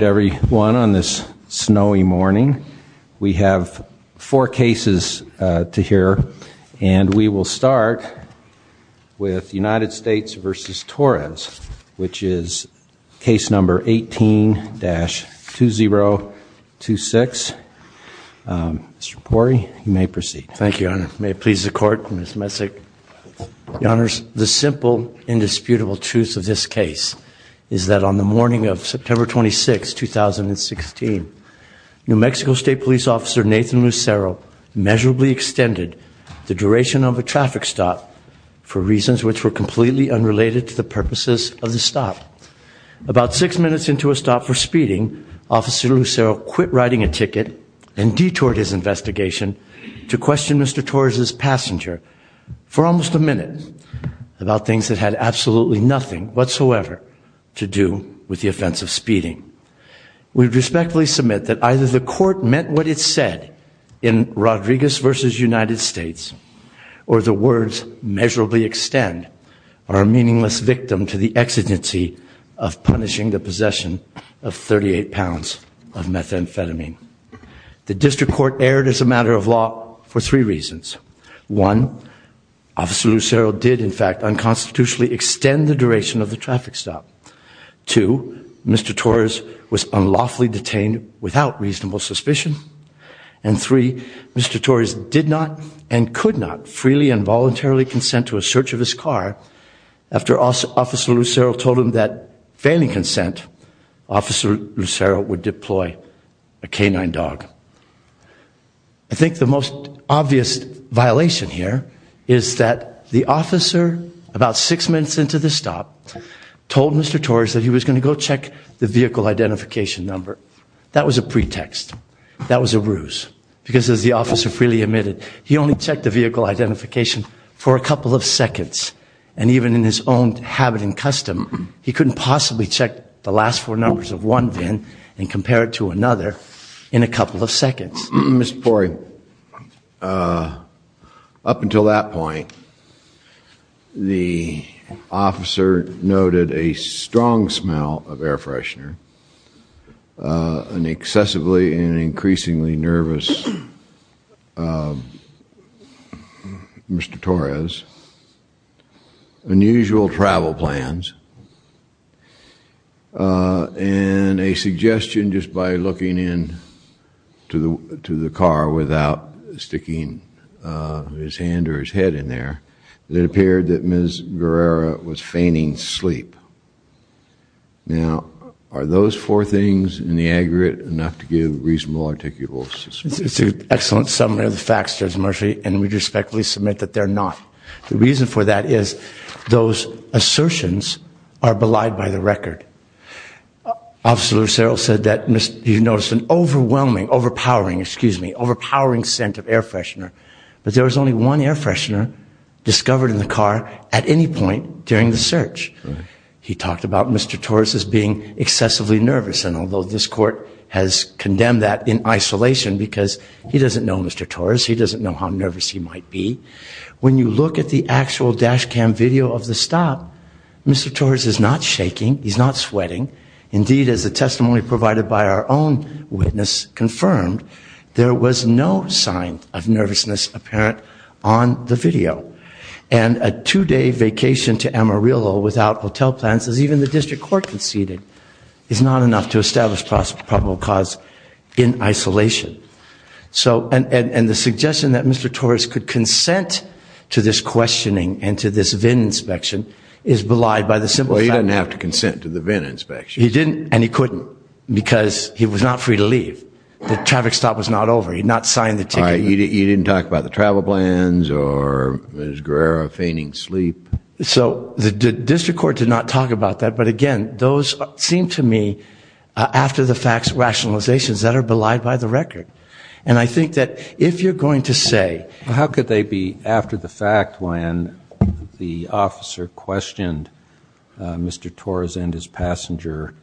everyone on this snowy morning. We have four cases to hear and we will start with United States v. Torres which is case number 18-2026. Mr. Pori, you may proceed. Thank you, your honor. May it please the court, Ms. Messick. Your honors, the simple indisputable truth of this case is that on the morning of September 26 2016, New Mexico State Police Officer Nathan Lucero measurably extended the duration of a traffic stop for reasons which were completely unrelated to the purposes of the stop. About six minutes into a stop for speeding, Officer Lucero quit riding a ticket and detoured his investigation to question Mr. Torres's passenger for almost a minute about things that had absolutely nothing whatsoever to do with the offense of speeding. We respectfully submit that either the court meant what it said in Rodriguez v. United States or the words measurably extend are a meaningless victim to the exigency of punishing the possession of 38 pounds of methamphetamine. The district court erred as a matter of law for three reasons. One, Officer Lucero did in fact unconstitutionally extend the duration of the traffic stop. Two, Mr. Torres was unlawfully detained without reasonable suspicion. And three, Mr. Torres did not and could not freely and voluntarily consent to a search of his car after Officer Lucero told him that failing consent, Officer Lucero would deploy a About six minutes into the stop, told Mr. Torres that he was going to go check the vehicle identification number. That was a pretext. That was a ruse because as the officer freely admitted, he only checked the vehicle identification for a couple of seconds and even in his own habit and custom, he couldn't possibly check the last four numbers of one VIN and compare it to another in a couple of seconds. Mr. Pori, up until that point, the officer noted a strong smell of air freshener, an excessively and increasingly nervous Mr. Torres, unusual travel plans, and a suggestion just by looking in to the to the car without sticking his hand or his head in there that it appeared that Ms. Guerrero was fainting sleep. Now are those four things in the aggregate enough to give reasonable articulations? It's an excellent summary of the facts, Judge Murphy, and we respectfully submit that they're not. The reason for that is those assertions are belied by the record. Officer Lucero said that he noticed an overwhelming, overpowering, excuse me, overpowering scent of air freshener, but there was only one air freshener discovered in the car at any point during the search. He talked about Mr. Torres as being excessively nervous and although this court has condemned that in isolation because he doesn't know Mr. Torres, he doesn't know how nervous he might be, when you look at the actual dash cam video of the stop, Mr. Torres is not shaking, he's not sweating. Indeed, as the testimony provided by our own witness confirmed, there was no sign of nervousness apparent on the video. And a two-day vacation to Amarillo without hotel plans, as even the district court conceded, is not enough to establish probable cause in isolation. So, and the suggestion that Mr. Torres could consent to this questioning and to this VIN inspection is belied by the simple fact. Well, he doesn't have to consent to the VIN inspection. He didn't, and he couldn't, because he was not free to leave. The traffic stop was not over, he not signed the ticket. You didn't talk about the travel plans or Ms. Guerrero fainting sleep. So, the district court did not talk about that, but again, those seem to me after-the-facts rationalizations that are belied by the record. And I think that if you're going to say... How could they be after-the-fact when the officer questioned Mr. Torres and his passenger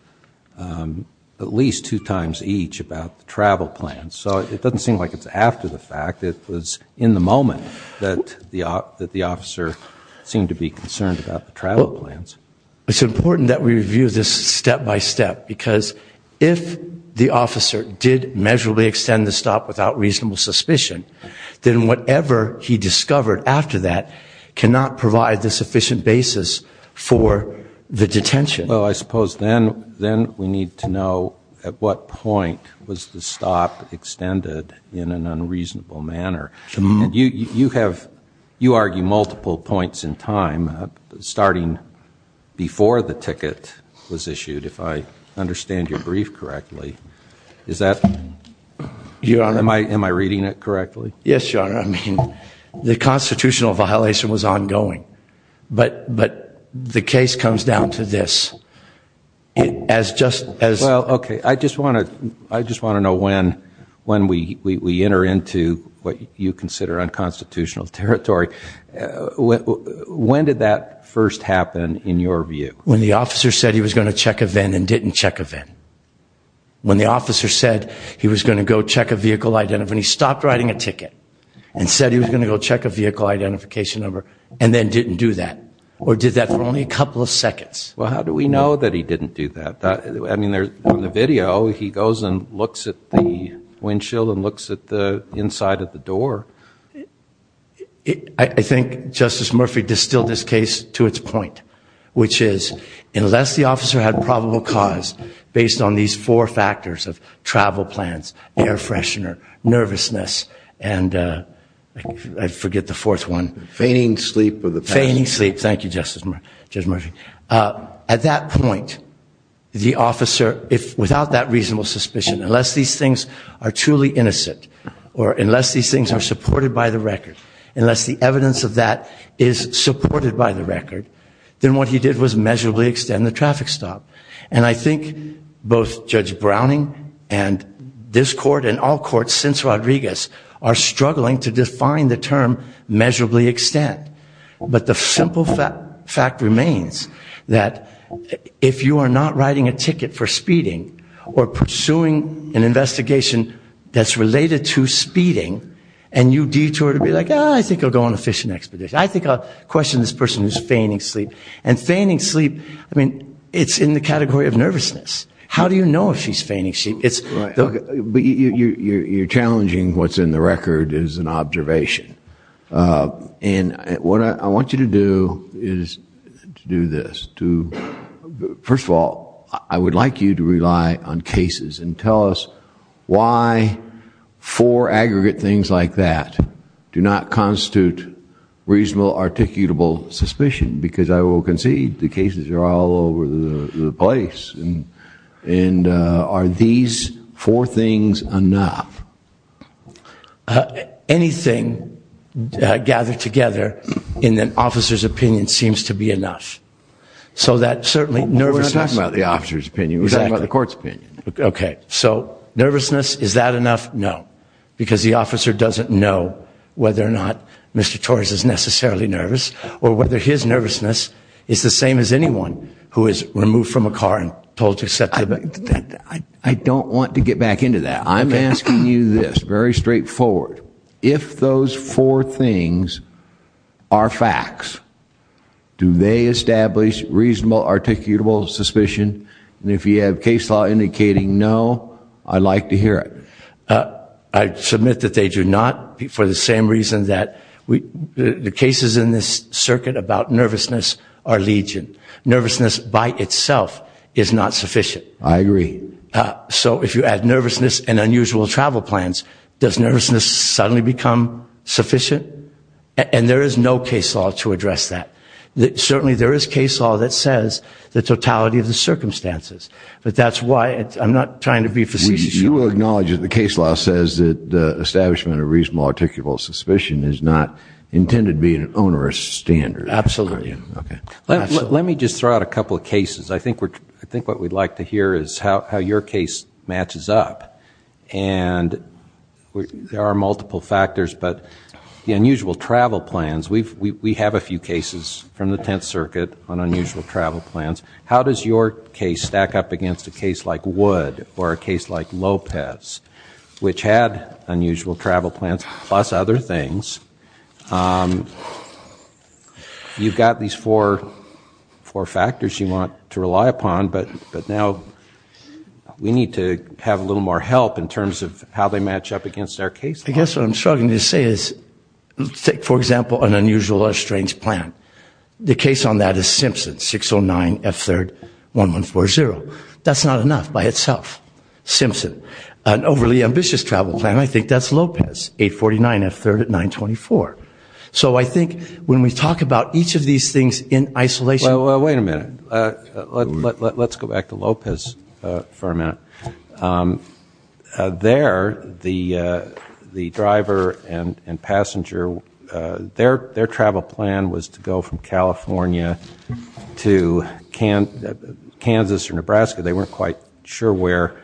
at least two times each about the travel plans? So, it doesn't seem like it's after-the-fact, it was in the moment that the officer seemed to be concerned about the plans. It's important that we review this step-by-step, because if the officer did measurably extend the stop without reasonable suspicion, then whatever he discovered after that cannot provide the sufficient basis for the detention. Well, I suppose then, then we need to know at what point was the stop extended in an before the ticket was issued, if I understand your brief correctly. Is that... Your Honor... Am I reading it correctly? Yes, Your Honor. I mean, the constitutional violation was ongoing, but the case comes down to this. As just... Well, okay. I just want to know when we enter into what you first happen in your view. When the officer said he was going to check a VIN and didn't check a VIN. When the officer said he was going to go check a vehicle identification, when he stopped riding a ticket and said he was going to go check a vehicle identification number, and then didn't do that. Or did that for only a couple of seconds. Well, how do we know that he didn't do that? I mean, there's on the video, he goes and looks at the windshield and looks at the point, which is, unless the officer had probable cause based on these four factors of travel plans, air freshener, nervousness, and I forget the fourth one. Fainting sleep. Fainting sleep. Thank you, Justice Murphy. At that point, the officer, if without that reasonable suspicion, unless these things are truly innocent, or unless these things are supported by the record, unless the what he did was measurably extend the traffic stop. And I think both Judge Browning and this court and all courts since Rodriguez are struggling to define the term measurably extend. But the simple fact remains that if you are not riding a ticket for speeding, or pursuing an investigation that's related to speeding, and you detour to be like, I think I'll go on a fishing expedition. I think I'll question this person who's fainting sleep. And fainting sleep, I mean, it's in the category of nervousness. How do you know if she's fainting? But you're challenging what's in the record is an observation. And what I want you to do is to do this. First of all, I would like you to rely on cases and tell us why four aggregate things like that do not constitute reasonable, articutable suspicion. Because I will concede the cases are all over the place. And are these four things enough? Anything gathered together in an officer's opinion seems to be enough. So that certainly nervousness. We're not talking about the nervousness. Is that enough? No. Because the officer doesn't know whether or not Mr. Torres is necessarily nervous, or whether his nervousness is the same as anyone who is removed from a car and told to step back. I don't want to get back into that. I'm asking you this, very straightforward. If those four things are facts, do they establish reasonable, articutable suspicion? And if you have case law indicating no, I'd like to hear it. I submit that they do not, for the same reason that the cases in this circuit about nervousness are legion. Nervousness by itself is not sufficient. I agree. So if you add nervousness and unusual travel plans, does nervousness suddenly become sufficient? And there is no case law to address that. Certainly there is case law that says the totality of the circumstances. But that's why I'm not trying to be facetious. You will acknowledge that the case law says that the establishment of reasonable, articulable suspicion is not intended to be an onerous standard. Absolutely. Okay. Let me just throw out a couple of cases. I think we're, I think what we'd like to hear is how your case matches up. And there are multiple factors, but the unusual travel plans, we have a few cases from the Tenth Circuit on unusual travel plans. How does your case stack up against a case like Wood or a case like Lopez, which had unusual travel plans, plus other things? You've got these four, four factors you want to rely upon, but but now we need to have a little more help in terms of how they match up against their case. I guess what I'm struggling to say is, let's take for instance, a strange plan. The case on that is Simpson, 609 F3rd, 1140. That's not enough by itself. Simpson. An overly ambitious travel plan, I think that's Lopez, 849 F3rd at 924. So I think when we talk about each of these things in isolation... Well, wait a minute. Let's go back to Lopez for a minute. There, the plan was to go from California to Kansas or Nebraska. They weren't quite sure where.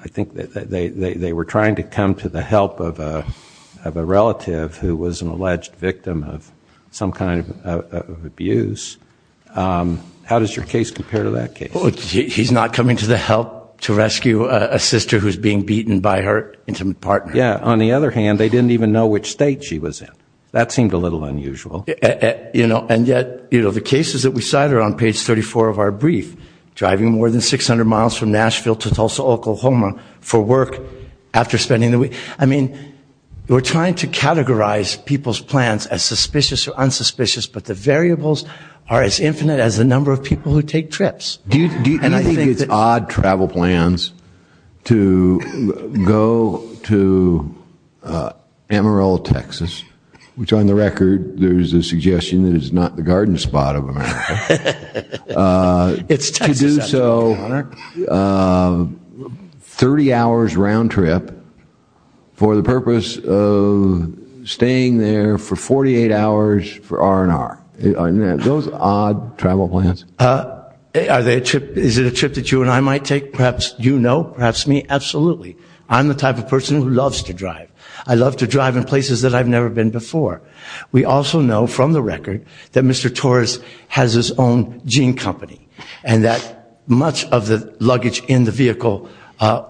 I think that they were trying to come to the help of a relative who was an alleged victim of some kind of abuse. How does your case compare to that case? He's not coming to the help to rescue a sister who's being beaten by her intimate partner. Yeah, on the other hand, they didn't even know which state she was in. That seemed a little unusual. You know, and yet, you know, the cases that we cite are on page 34 of our brief. Driving more than 600 miles from Nashville to Tulsa, Oklahoma for work after spending the week. I mean, we're trying to categorize people's plans as suspicious or unsuspicious, but the variables are as infinite as the number of people who take trips. And I go to Amarillo, Texas, which on the record, there's a suggestion that it's not the garden spot of America. To do so, 30 hours round-trip for the purpose of staying there for 48 hours for R&R. Are those odd travel plans? Is it a trip that you and I might take? Perhaps you know, perhaps me? Absolutely. I'm the type of person who loves to drive. I love to drive in places that I've never been before. We also know from the record that Mr. Torres has his own jean company and that much of the luggage in the vehicle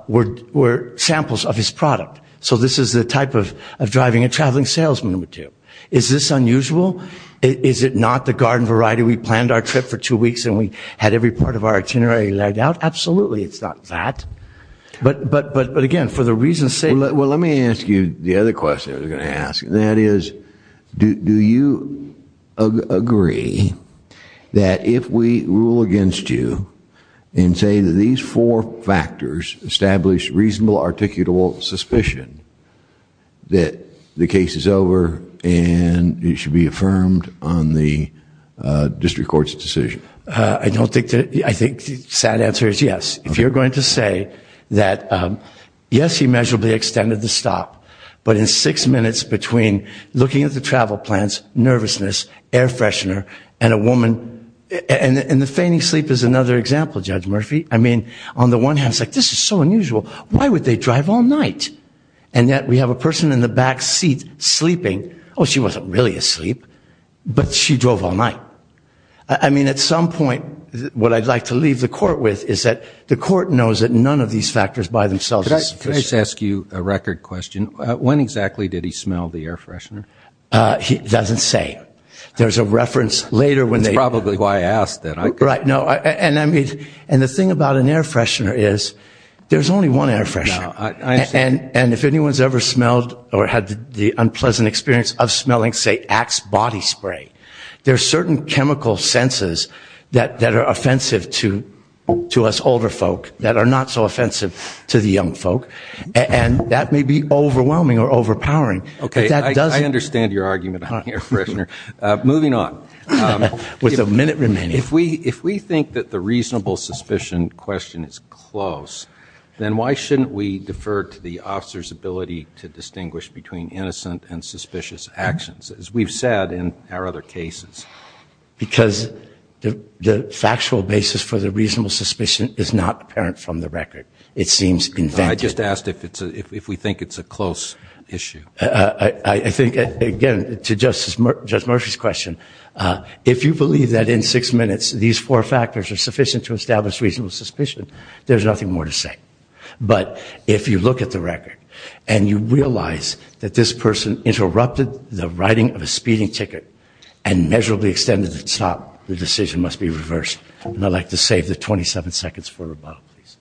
were samples of his product. So this is the type of driving a traveling salesman would do. Is this unusual? Is it not the garden variety? We planned our trip for two weeks and we had every part of our luggage. Absolutely, it's not that. But again, for the reasons... Well, let me ask you the other question I was going to ask. That is, do you agree that if we rule against you and say that these four factors establish reasonable, articulable suspicion that the case is over and it should be affirmed on the district court's decision? I don't think that... I think the sad answer is yes. If you're going to say that yes, he measurably extended the stop, but in six minutes between looking at the travel plans, nervousness, air freshener, and a woman... and the feigning sleep is another example, Judge Murphy. I mean, on the one hand, it's like this is so unusual. Why would they drive all night? And yet we have a person in the back seat sleeping. Oh, she wasn't really asleep, but she drove all night. I mean, at some point, what I'd like to leave the court with is that the court knows that none of these factors by themselves... Can I just ask you a record question? When exactly did he smell the air freshener? He doesn't say. There's a reference later when they... That's probably why I asked that. Right, no, and I mean, and the thing about an air freshener is there's only one air freshener. And if anyone's ever smelled or had the unpleasant experience of smelling, say, Axe body spray, there's certain chemical senses that are offensive to us older folk that are not so offensive to the young folk, and that may be overwhelming or overpowering. Okay, I understand your argument on the air freshener. Moving on. With a minute remaining. If we think that the reasonable suspicion question is close, then why shouldn't we defer to the officer's ability to distinguish between innocent and suspicious actions, as we've said in our other cases? Because the factual basis for the reasonable suspicion is not apparent from the record. It seems invented. I just asked if it's a, if we think it's a close issue. I think, again, to Justice Murphy's question, if you believe that in six minutes these four factors are sufficient to establish reasonable suspicion, there's nothing more to say. But if you look at the record, and you realize that this person interrupted the writing of a speeding ticket and measurably extended the stop, the decision must be reversed. And I'd like to save the 27 seconds for rebuttal, please.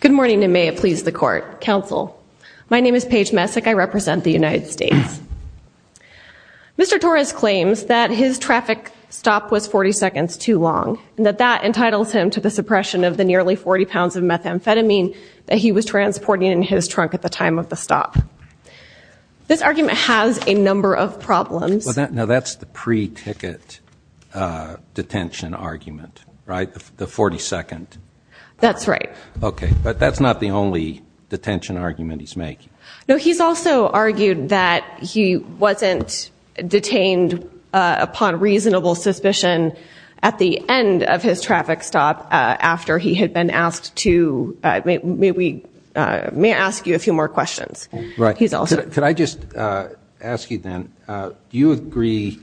Good morning, and may it please the Court. Counsel, my name is Paige Messick. I represent the United States. Mr. Torres claims that his traffic stop was 40 seconds too long, and that that entitles him to the suppression of the nearly 40 grams of methamphetamine that he was transporting in his trunk at the time of the stop. This argument has a number of problems. Now, that's the pre-ticket detention argument, right? The 40 second. That's right. Okay, but that's not the only detention argument he's making. No, he's also argued that he wasn't detained upon reasonable suspicion at the end of his traffic stop, after he had been asked to... May I ask you a few more questions? Right. He's also... Could I just ask you then, do you agree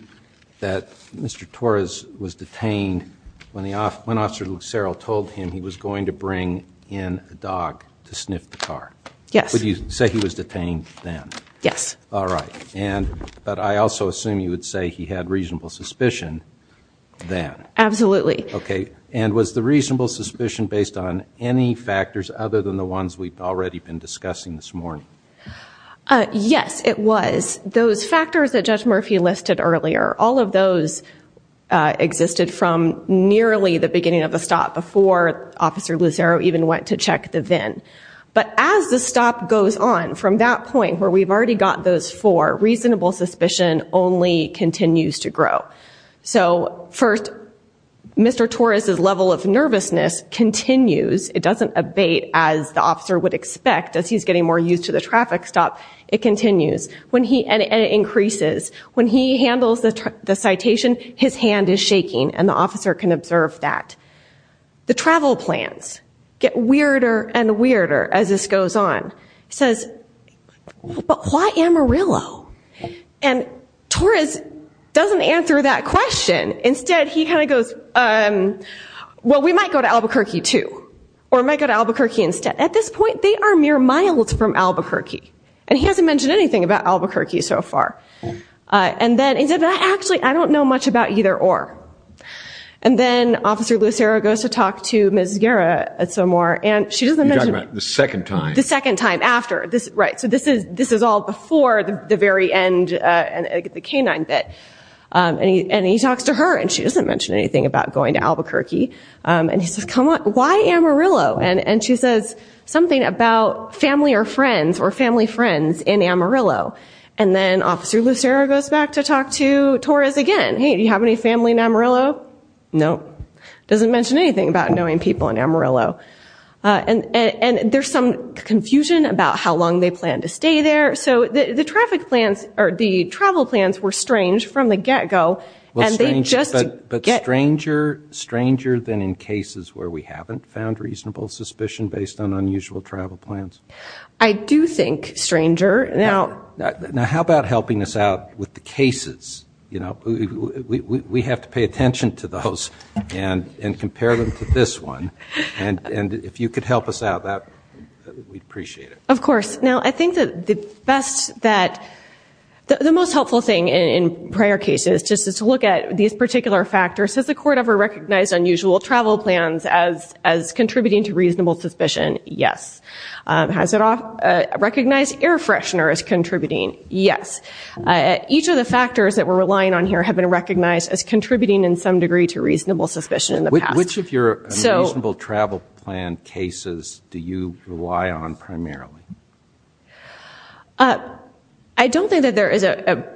that Mr. Torres was detained when Officer Lucero told him he was going to bring in a dog to sniff the car? Yes. Would you say he was detained then? Yes. All right. But I also assume you would say he had reasonable suspicion then. Absolutely. Okay, and was the reasonable suspicion based on any factors other than the ones we've already been discussing this morning? Yes, it was. Those factors that Judge Murphy listed earlier, all of those existed from nearly the beginning of the stop, before Officer Lucero even went to check the VIN. But as the stop goes on, from that point where we've already got those four, reasonable suspicion only continues to grow. So, first, Mr. Torres's level of nervousness continues. It doesn't abate as the officer would expect, as he's getting more used to the traffic stop. It continues, and it increases. When he handles the citation, his hand is shaking and the officer can observe that. The travel plans get weirder and weirder as this goes on. He says, but why Amarillo? And Torres doesn't answer that question. Instead, he kind of says, well, we might go to Albuquerque too, or we might go to Albuquerque instead. At this point, they are mere miles from Albuquerque, and he hasn't mentioned anything about Albuquerque so far. And then he said, actually, I don't know much about either or. And then Officer Lucero goes to talk to Ms. Guerra some more, and she doesn't mention it. You're talking about the second time. The second time after. Right, so this is all before the very end, the canine bit. And he talks to her, and she doesn't mention anything about going to Albuquerque. And he says, come on, why Amarillo? And she says something about family or friends, or family friends in Amarillo. And then Officer Lucero goes back to talk to Torres again. Hey, do you have any family in Amarillo? No. Doesn't mention anything about knowing people in Amarillo. And there's some confusion about how long they plan to stay there. So the traffic plans, or the travel plans, were strange from the get-go. But stranger than in cases where we haven't found reasonable suspicion based on unusual travel plans? I do think stranger. Now how about helping us out with the cases? You know, we have to pay attention to those, and compare them to this one. And if you could help us out, we'd appreciate it. Of course. Now I think that the best that, the most helpful thing in prior cases, just to look at these particular factors. Has the court ever recognized unusual travel plans as contributing to reasonable suspicion? Yes. Has it recognized air fresheners contributing? Yes. Each of the factors that we're relying on here have been recognized as contributing in some degree to reasonable suspicion in the case. I don't think that there is a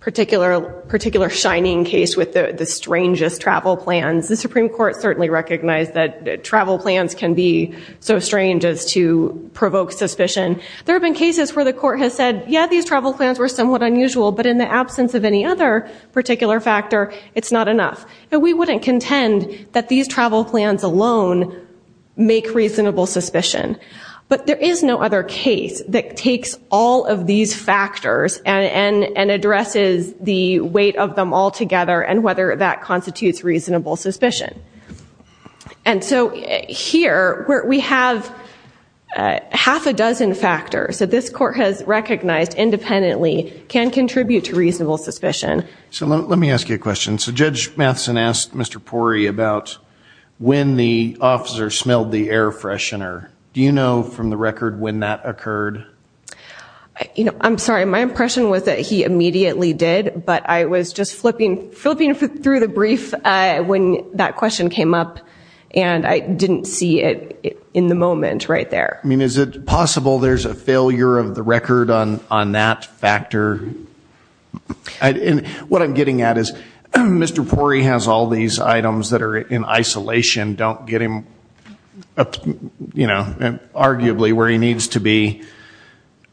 particular shining case with the strangest travel plans. The Supreme Court certainly recognized that travel plans can be so strange as to provoke suspicion. There have been cases where the court has said, yeah, these travel plans were somewhat unusual, but in the absence of any other particular factor, it's not enough. And we wouldn't contend that these travel plans alone make reasonable suspicion. But there is no other case that takes all of these factors and addresses the weight of them all together, and whether that constitutes reasonable suspicion. And so here, we have half a dozen factors that this court has recognized independently can contribute to reasonable suspicion. So let me ask you a question. So Judge Matheson asked Mr. Pori about when the officer smelled the and that occurred? You know, I'm sorry, my impression was that he immediately did, but I was just flipping through the brief when that question came up, and I didn't see it in the moment right there. I mean, is it possible there's a failure of the record on that factor? What I'm getting at is Mr. Pori has all these items that are in isolation, don't get him, you know, arguably where he needs to be.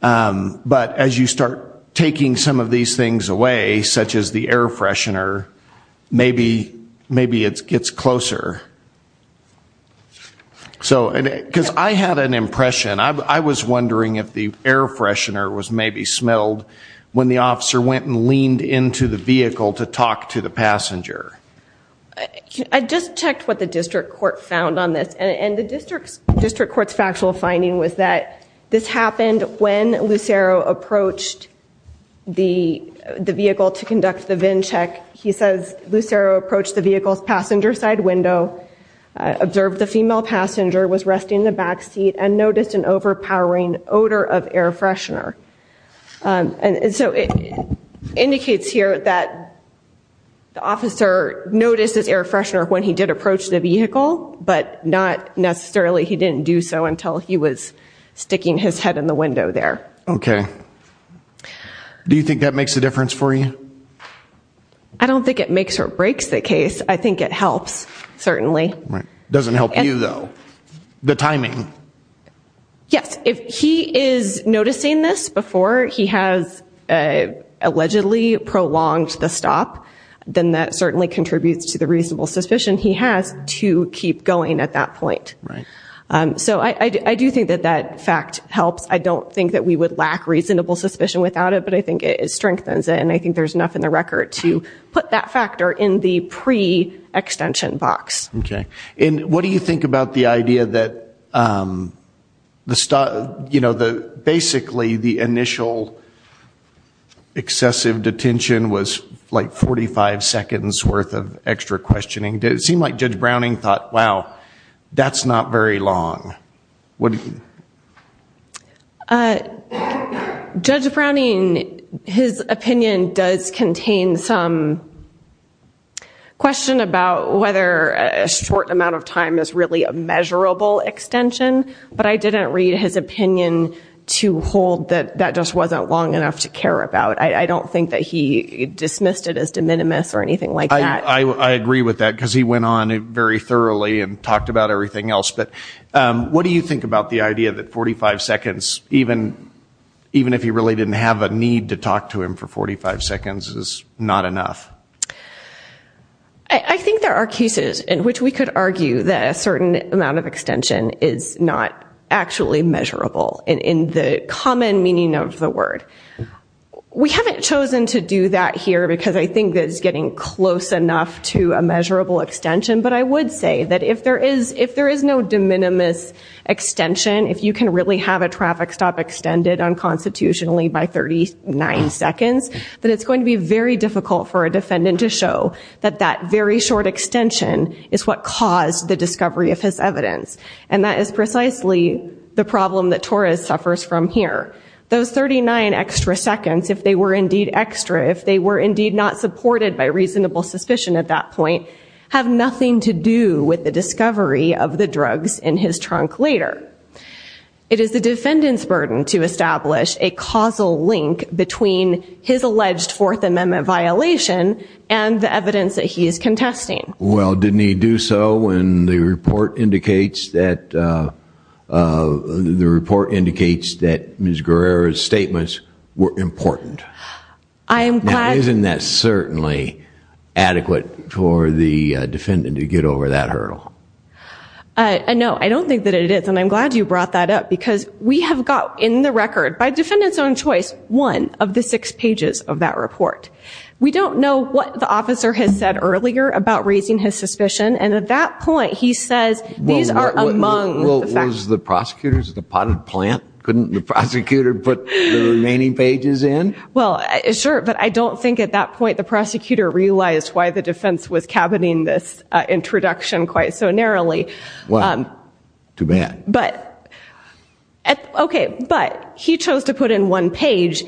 But as you start taking some of these things away, such as the air freshener, maybe it gets closer. So, because I had an impression, I was wondering if the air freshener was maybe smelled when the officer went and leaned into the vehicle to talk to the passenger. I just checked what the district court found on this, and the district court's factual finding was that this happened when Lucero approached the vehicle to conduct the VIN check. He says Lucero approached the vehicle's passenger side window, observed the female passenger, was resting in the backseat, and noticed an overpowering odor of air freshener. And so it indicates here that the officer noticed this air freshener when he did approach the vehicle, but not necessarily he didn't do so until he was sticking his head in the window there. Okay, do you think that makes a difference for you? I don't think it makes or breaks the case. I think it helps, certainly. Right, doesn't help you though, the timing. Yes, if he is noticing this before he has allegedly prolonged the stop, then that certainly contributes to the reasonable suspicion he has to keep going at that point. Right. So I do think that that fact helps. I don't think that we would lack reasonable suspicion without it, but I think it strengthens it, and I think there's enough in the record to put that factor in the pre-extension box. Okay, and what do you think about the idea that the, you know, the basically the initial excessive detention was like 45 seconds worth of extra questioning. Did it seem like Judge Browning thought, wow, that's not very long. What do you think? Judge Browning, his opinion does contain some question about whether a short amount of time is really a measurable extension, but I didn't read his opinion to hold that that just wasn't long enough to care about. I don't think that he dismissed it as de minimis or anything like that. I agree with that because he went on very thoroughly and talked about everything else, but what do you think about the idea that 45 seconds, even if he really didn't have a need to talk to him for 45 seconds, is not enough? I think there are cases in which we could argue that a certain amount of extension is not actually measurable in the common meaning of the word. We haven't chosen to do that here because I think that it's getting close enough to a measurable extension, but I would say that if there is no de minimis extension, if you can really have a traffic stop extended unconstitutionally by 39 seconds, then it's going to be very difficult for a defendant to show that that very short extension is what caused the discovery of his evidence, and that is precisely the problem that Torres suffers from here. Those 39 extra seconds, if they were indeed not supported by reasonable suspicion at that point, have nothing to do with the discovery of the drugs in his trunk later. It is the defendant's burden to establish a causal link between his alleged Fourth Amendment violation and the evidence that he is contesting. Well, didn't he do so when the report indicates that, the report indicates that Ms. Guerrero's statements were important? Now, isn't that certainly adequate for the defendant to get over that hurdle? No, I don't think that it is, and I'm glad you brought that up because we have got in the record, by defendant's own choice, one of the six pages of that report. We don't know what the officer has said earlier about raising his suspicion, and at that point he says these are among the facts. Was the prosecutors at the potted plant? Couldn't the prosecutor put the remaining pages in? Well, sure, but I don't think at that point the prosecutor realized why the defense was caboting this introduction quite so narrowly. Well, too bad. But, okay, but he chose to put in one page.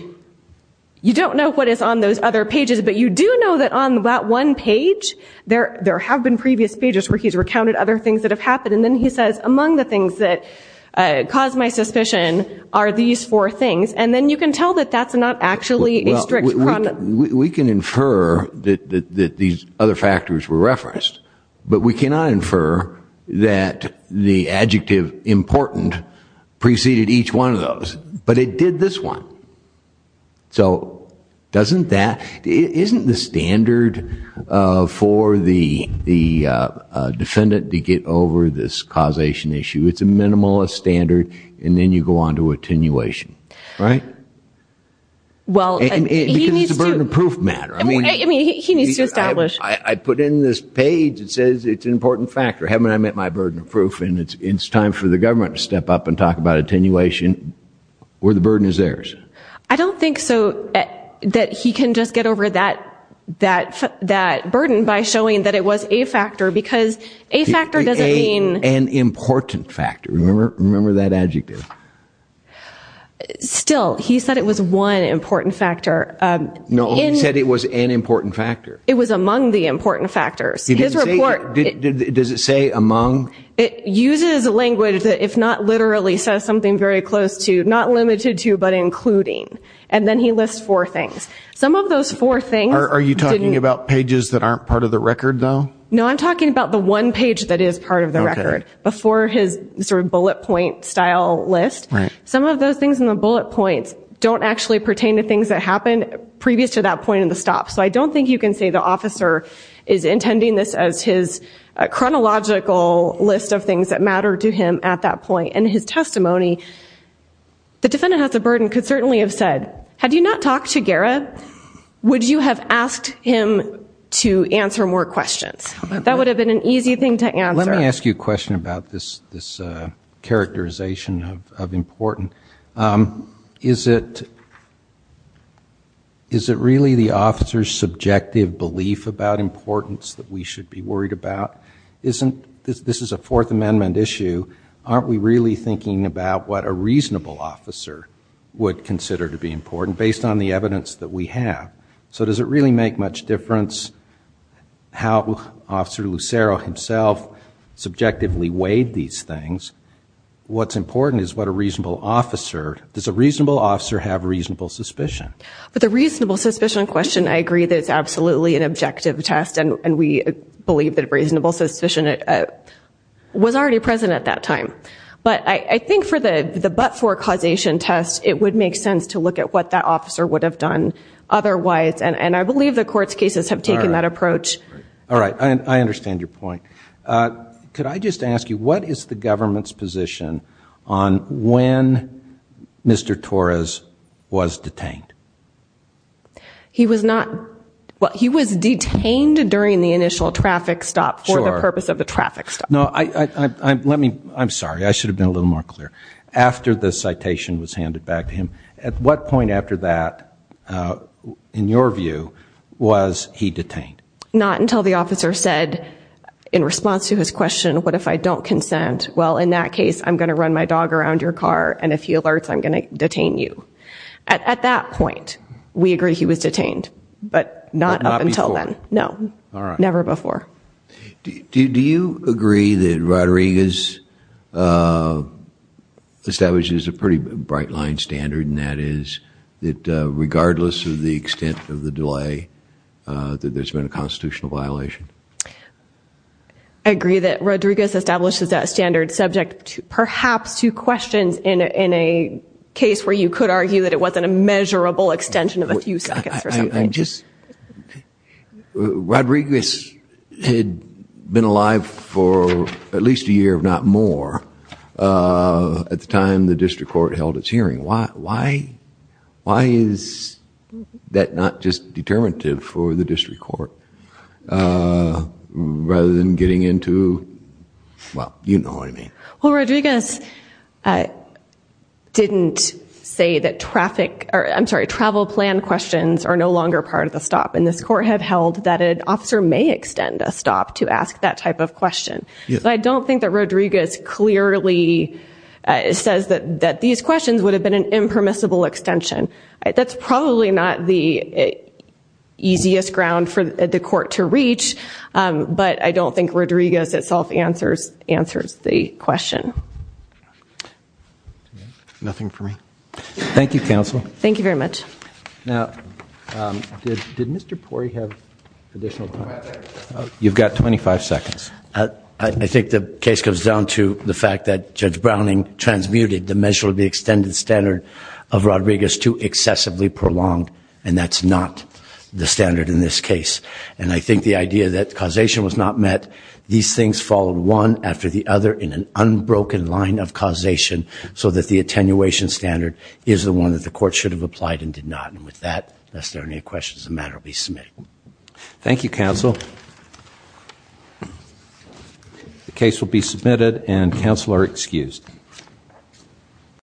You don't know what is on those other pages, but you do know that on that one page, there have been previous pages where he's recounted other things that have happened, and then he says among the things that caused my suspicion are these four things, and then you can tell that that's not actually a strict problem. We can infer that these other factors were referenced, but we cannot infer that the adjective important preceded each one of those, but it did this one. So, doesn't that, isn't the standard for the minimalist standard, and then you go on to attenuation, right? Well, he needs to establish. I put in this page, it says it's an important factor. Haven't I met my burden of proof, and it's time for the government to step up and talk about attenuation, where the burden is theirs. I don't think so, that he can just get over that burden by showing that it was a factor, because a factor doesn't mean... An important factor, remember that adjective. Still, he said it was one important factor. No, he said it was an important factor. It was among the important factors. He didn't say, does it say among? It uses language that if not literally says something very close to, not limited to, but including, and then he lists four things. Some of those four things... Are you talking about pages that aren't part of the record, though? No, I'm talking about the one page that is part of the record, before his bullet point style list. Some of those things in the bullet points don't actually pertain to things that happened previous to that point in the stop. So I don't think you can say the officer is intending this as his chronological list of things that matter to him at that point. In his testimony, the defendant has a burden, could certainly have said, had you not talked to Garrett, would you have asked him to answer more questions? That would have been an easy thing to answer. Let me ask you a question about this characterization of important. Is it really the officer's subjective belief about importance that we should be worried about? This is a Fourth Amendment issue. Aren't we really thinking about what a reasonable officer would consider to be important, based on the evidence that we have? So does it really make much difference how Officer Lucero himself subjectively weighed these things? What's important is what a reasonable officer... Does a reasonable officer have reasonable suspicion? With a reasonable suspicion question, I agree that it's absolutely an objective test, and we believe that a reasonable suspicion was already present at that time. But I think for the but-for causation test, it would make sense to look at what that officer would have done otherwise, and I believe the court's cases have taken that approach. All right, I understand your point. Could I just ask you, what is the government's position on when Mr. Torres was detained? He was not... Well, he was detained during the initial traffic stop for the purpose of a traffic stop. No, I'm sorry, I should have been a little more clear. After the citation was handed back to him, at what point after that, in your view, was he detained? Not until the officer said, in response to his question, what if I don't consent? Well, in that case, I'm going to run my dog around your car, and if he alerts, I'm going to detain you. At that point, we agree he was detained, but not up until then. But not before? No, never before. Do you agree that Rodriguez establishes a pretty bright-line standard, and that is that regardless of the extent of the delay, that there's been a constitutional violation? I agree that Rodriguez establishes that standard subject perhaps to questions in a case where you could argue that it wasn't a measurable extension of a few seconds or something. I just... Rodriguez had been alive for at least a year, if not more, at the time the district court held its hearing. Why is that not just determinative for the district court, rather than getting into... Well, you know what I mean. Well, Rodriguez didn't say that travel plan questions are no longer part of the stop, and this court had held that an officer may extend a stop to ask that type of question. But I don't think that Rodriguez clearly says that these questions would have been an impermissible extension. That's probably not the easiest ground for the court to reach, but I don't think Rodriguez itself answers the question. Nothing for me. Thank you, counsel. Thank you very much. Now, did Mr. Pori have additional time? You've got 25 seconds. I think the case comes down to the fact that Judge Browning transmuted the measure of the extended standard of Rodriguez to excessively prolonged, and that's not the standard in this case. And I think the idea that causation was not met, these things followed one after the other in an unbroken line of causation so that the attenuation standard is the one that the court should have applied and did not. And with that, unless there are any questions, the matter will be submitted. Thank you, counsel. The case will be submitted, and counsel are excused.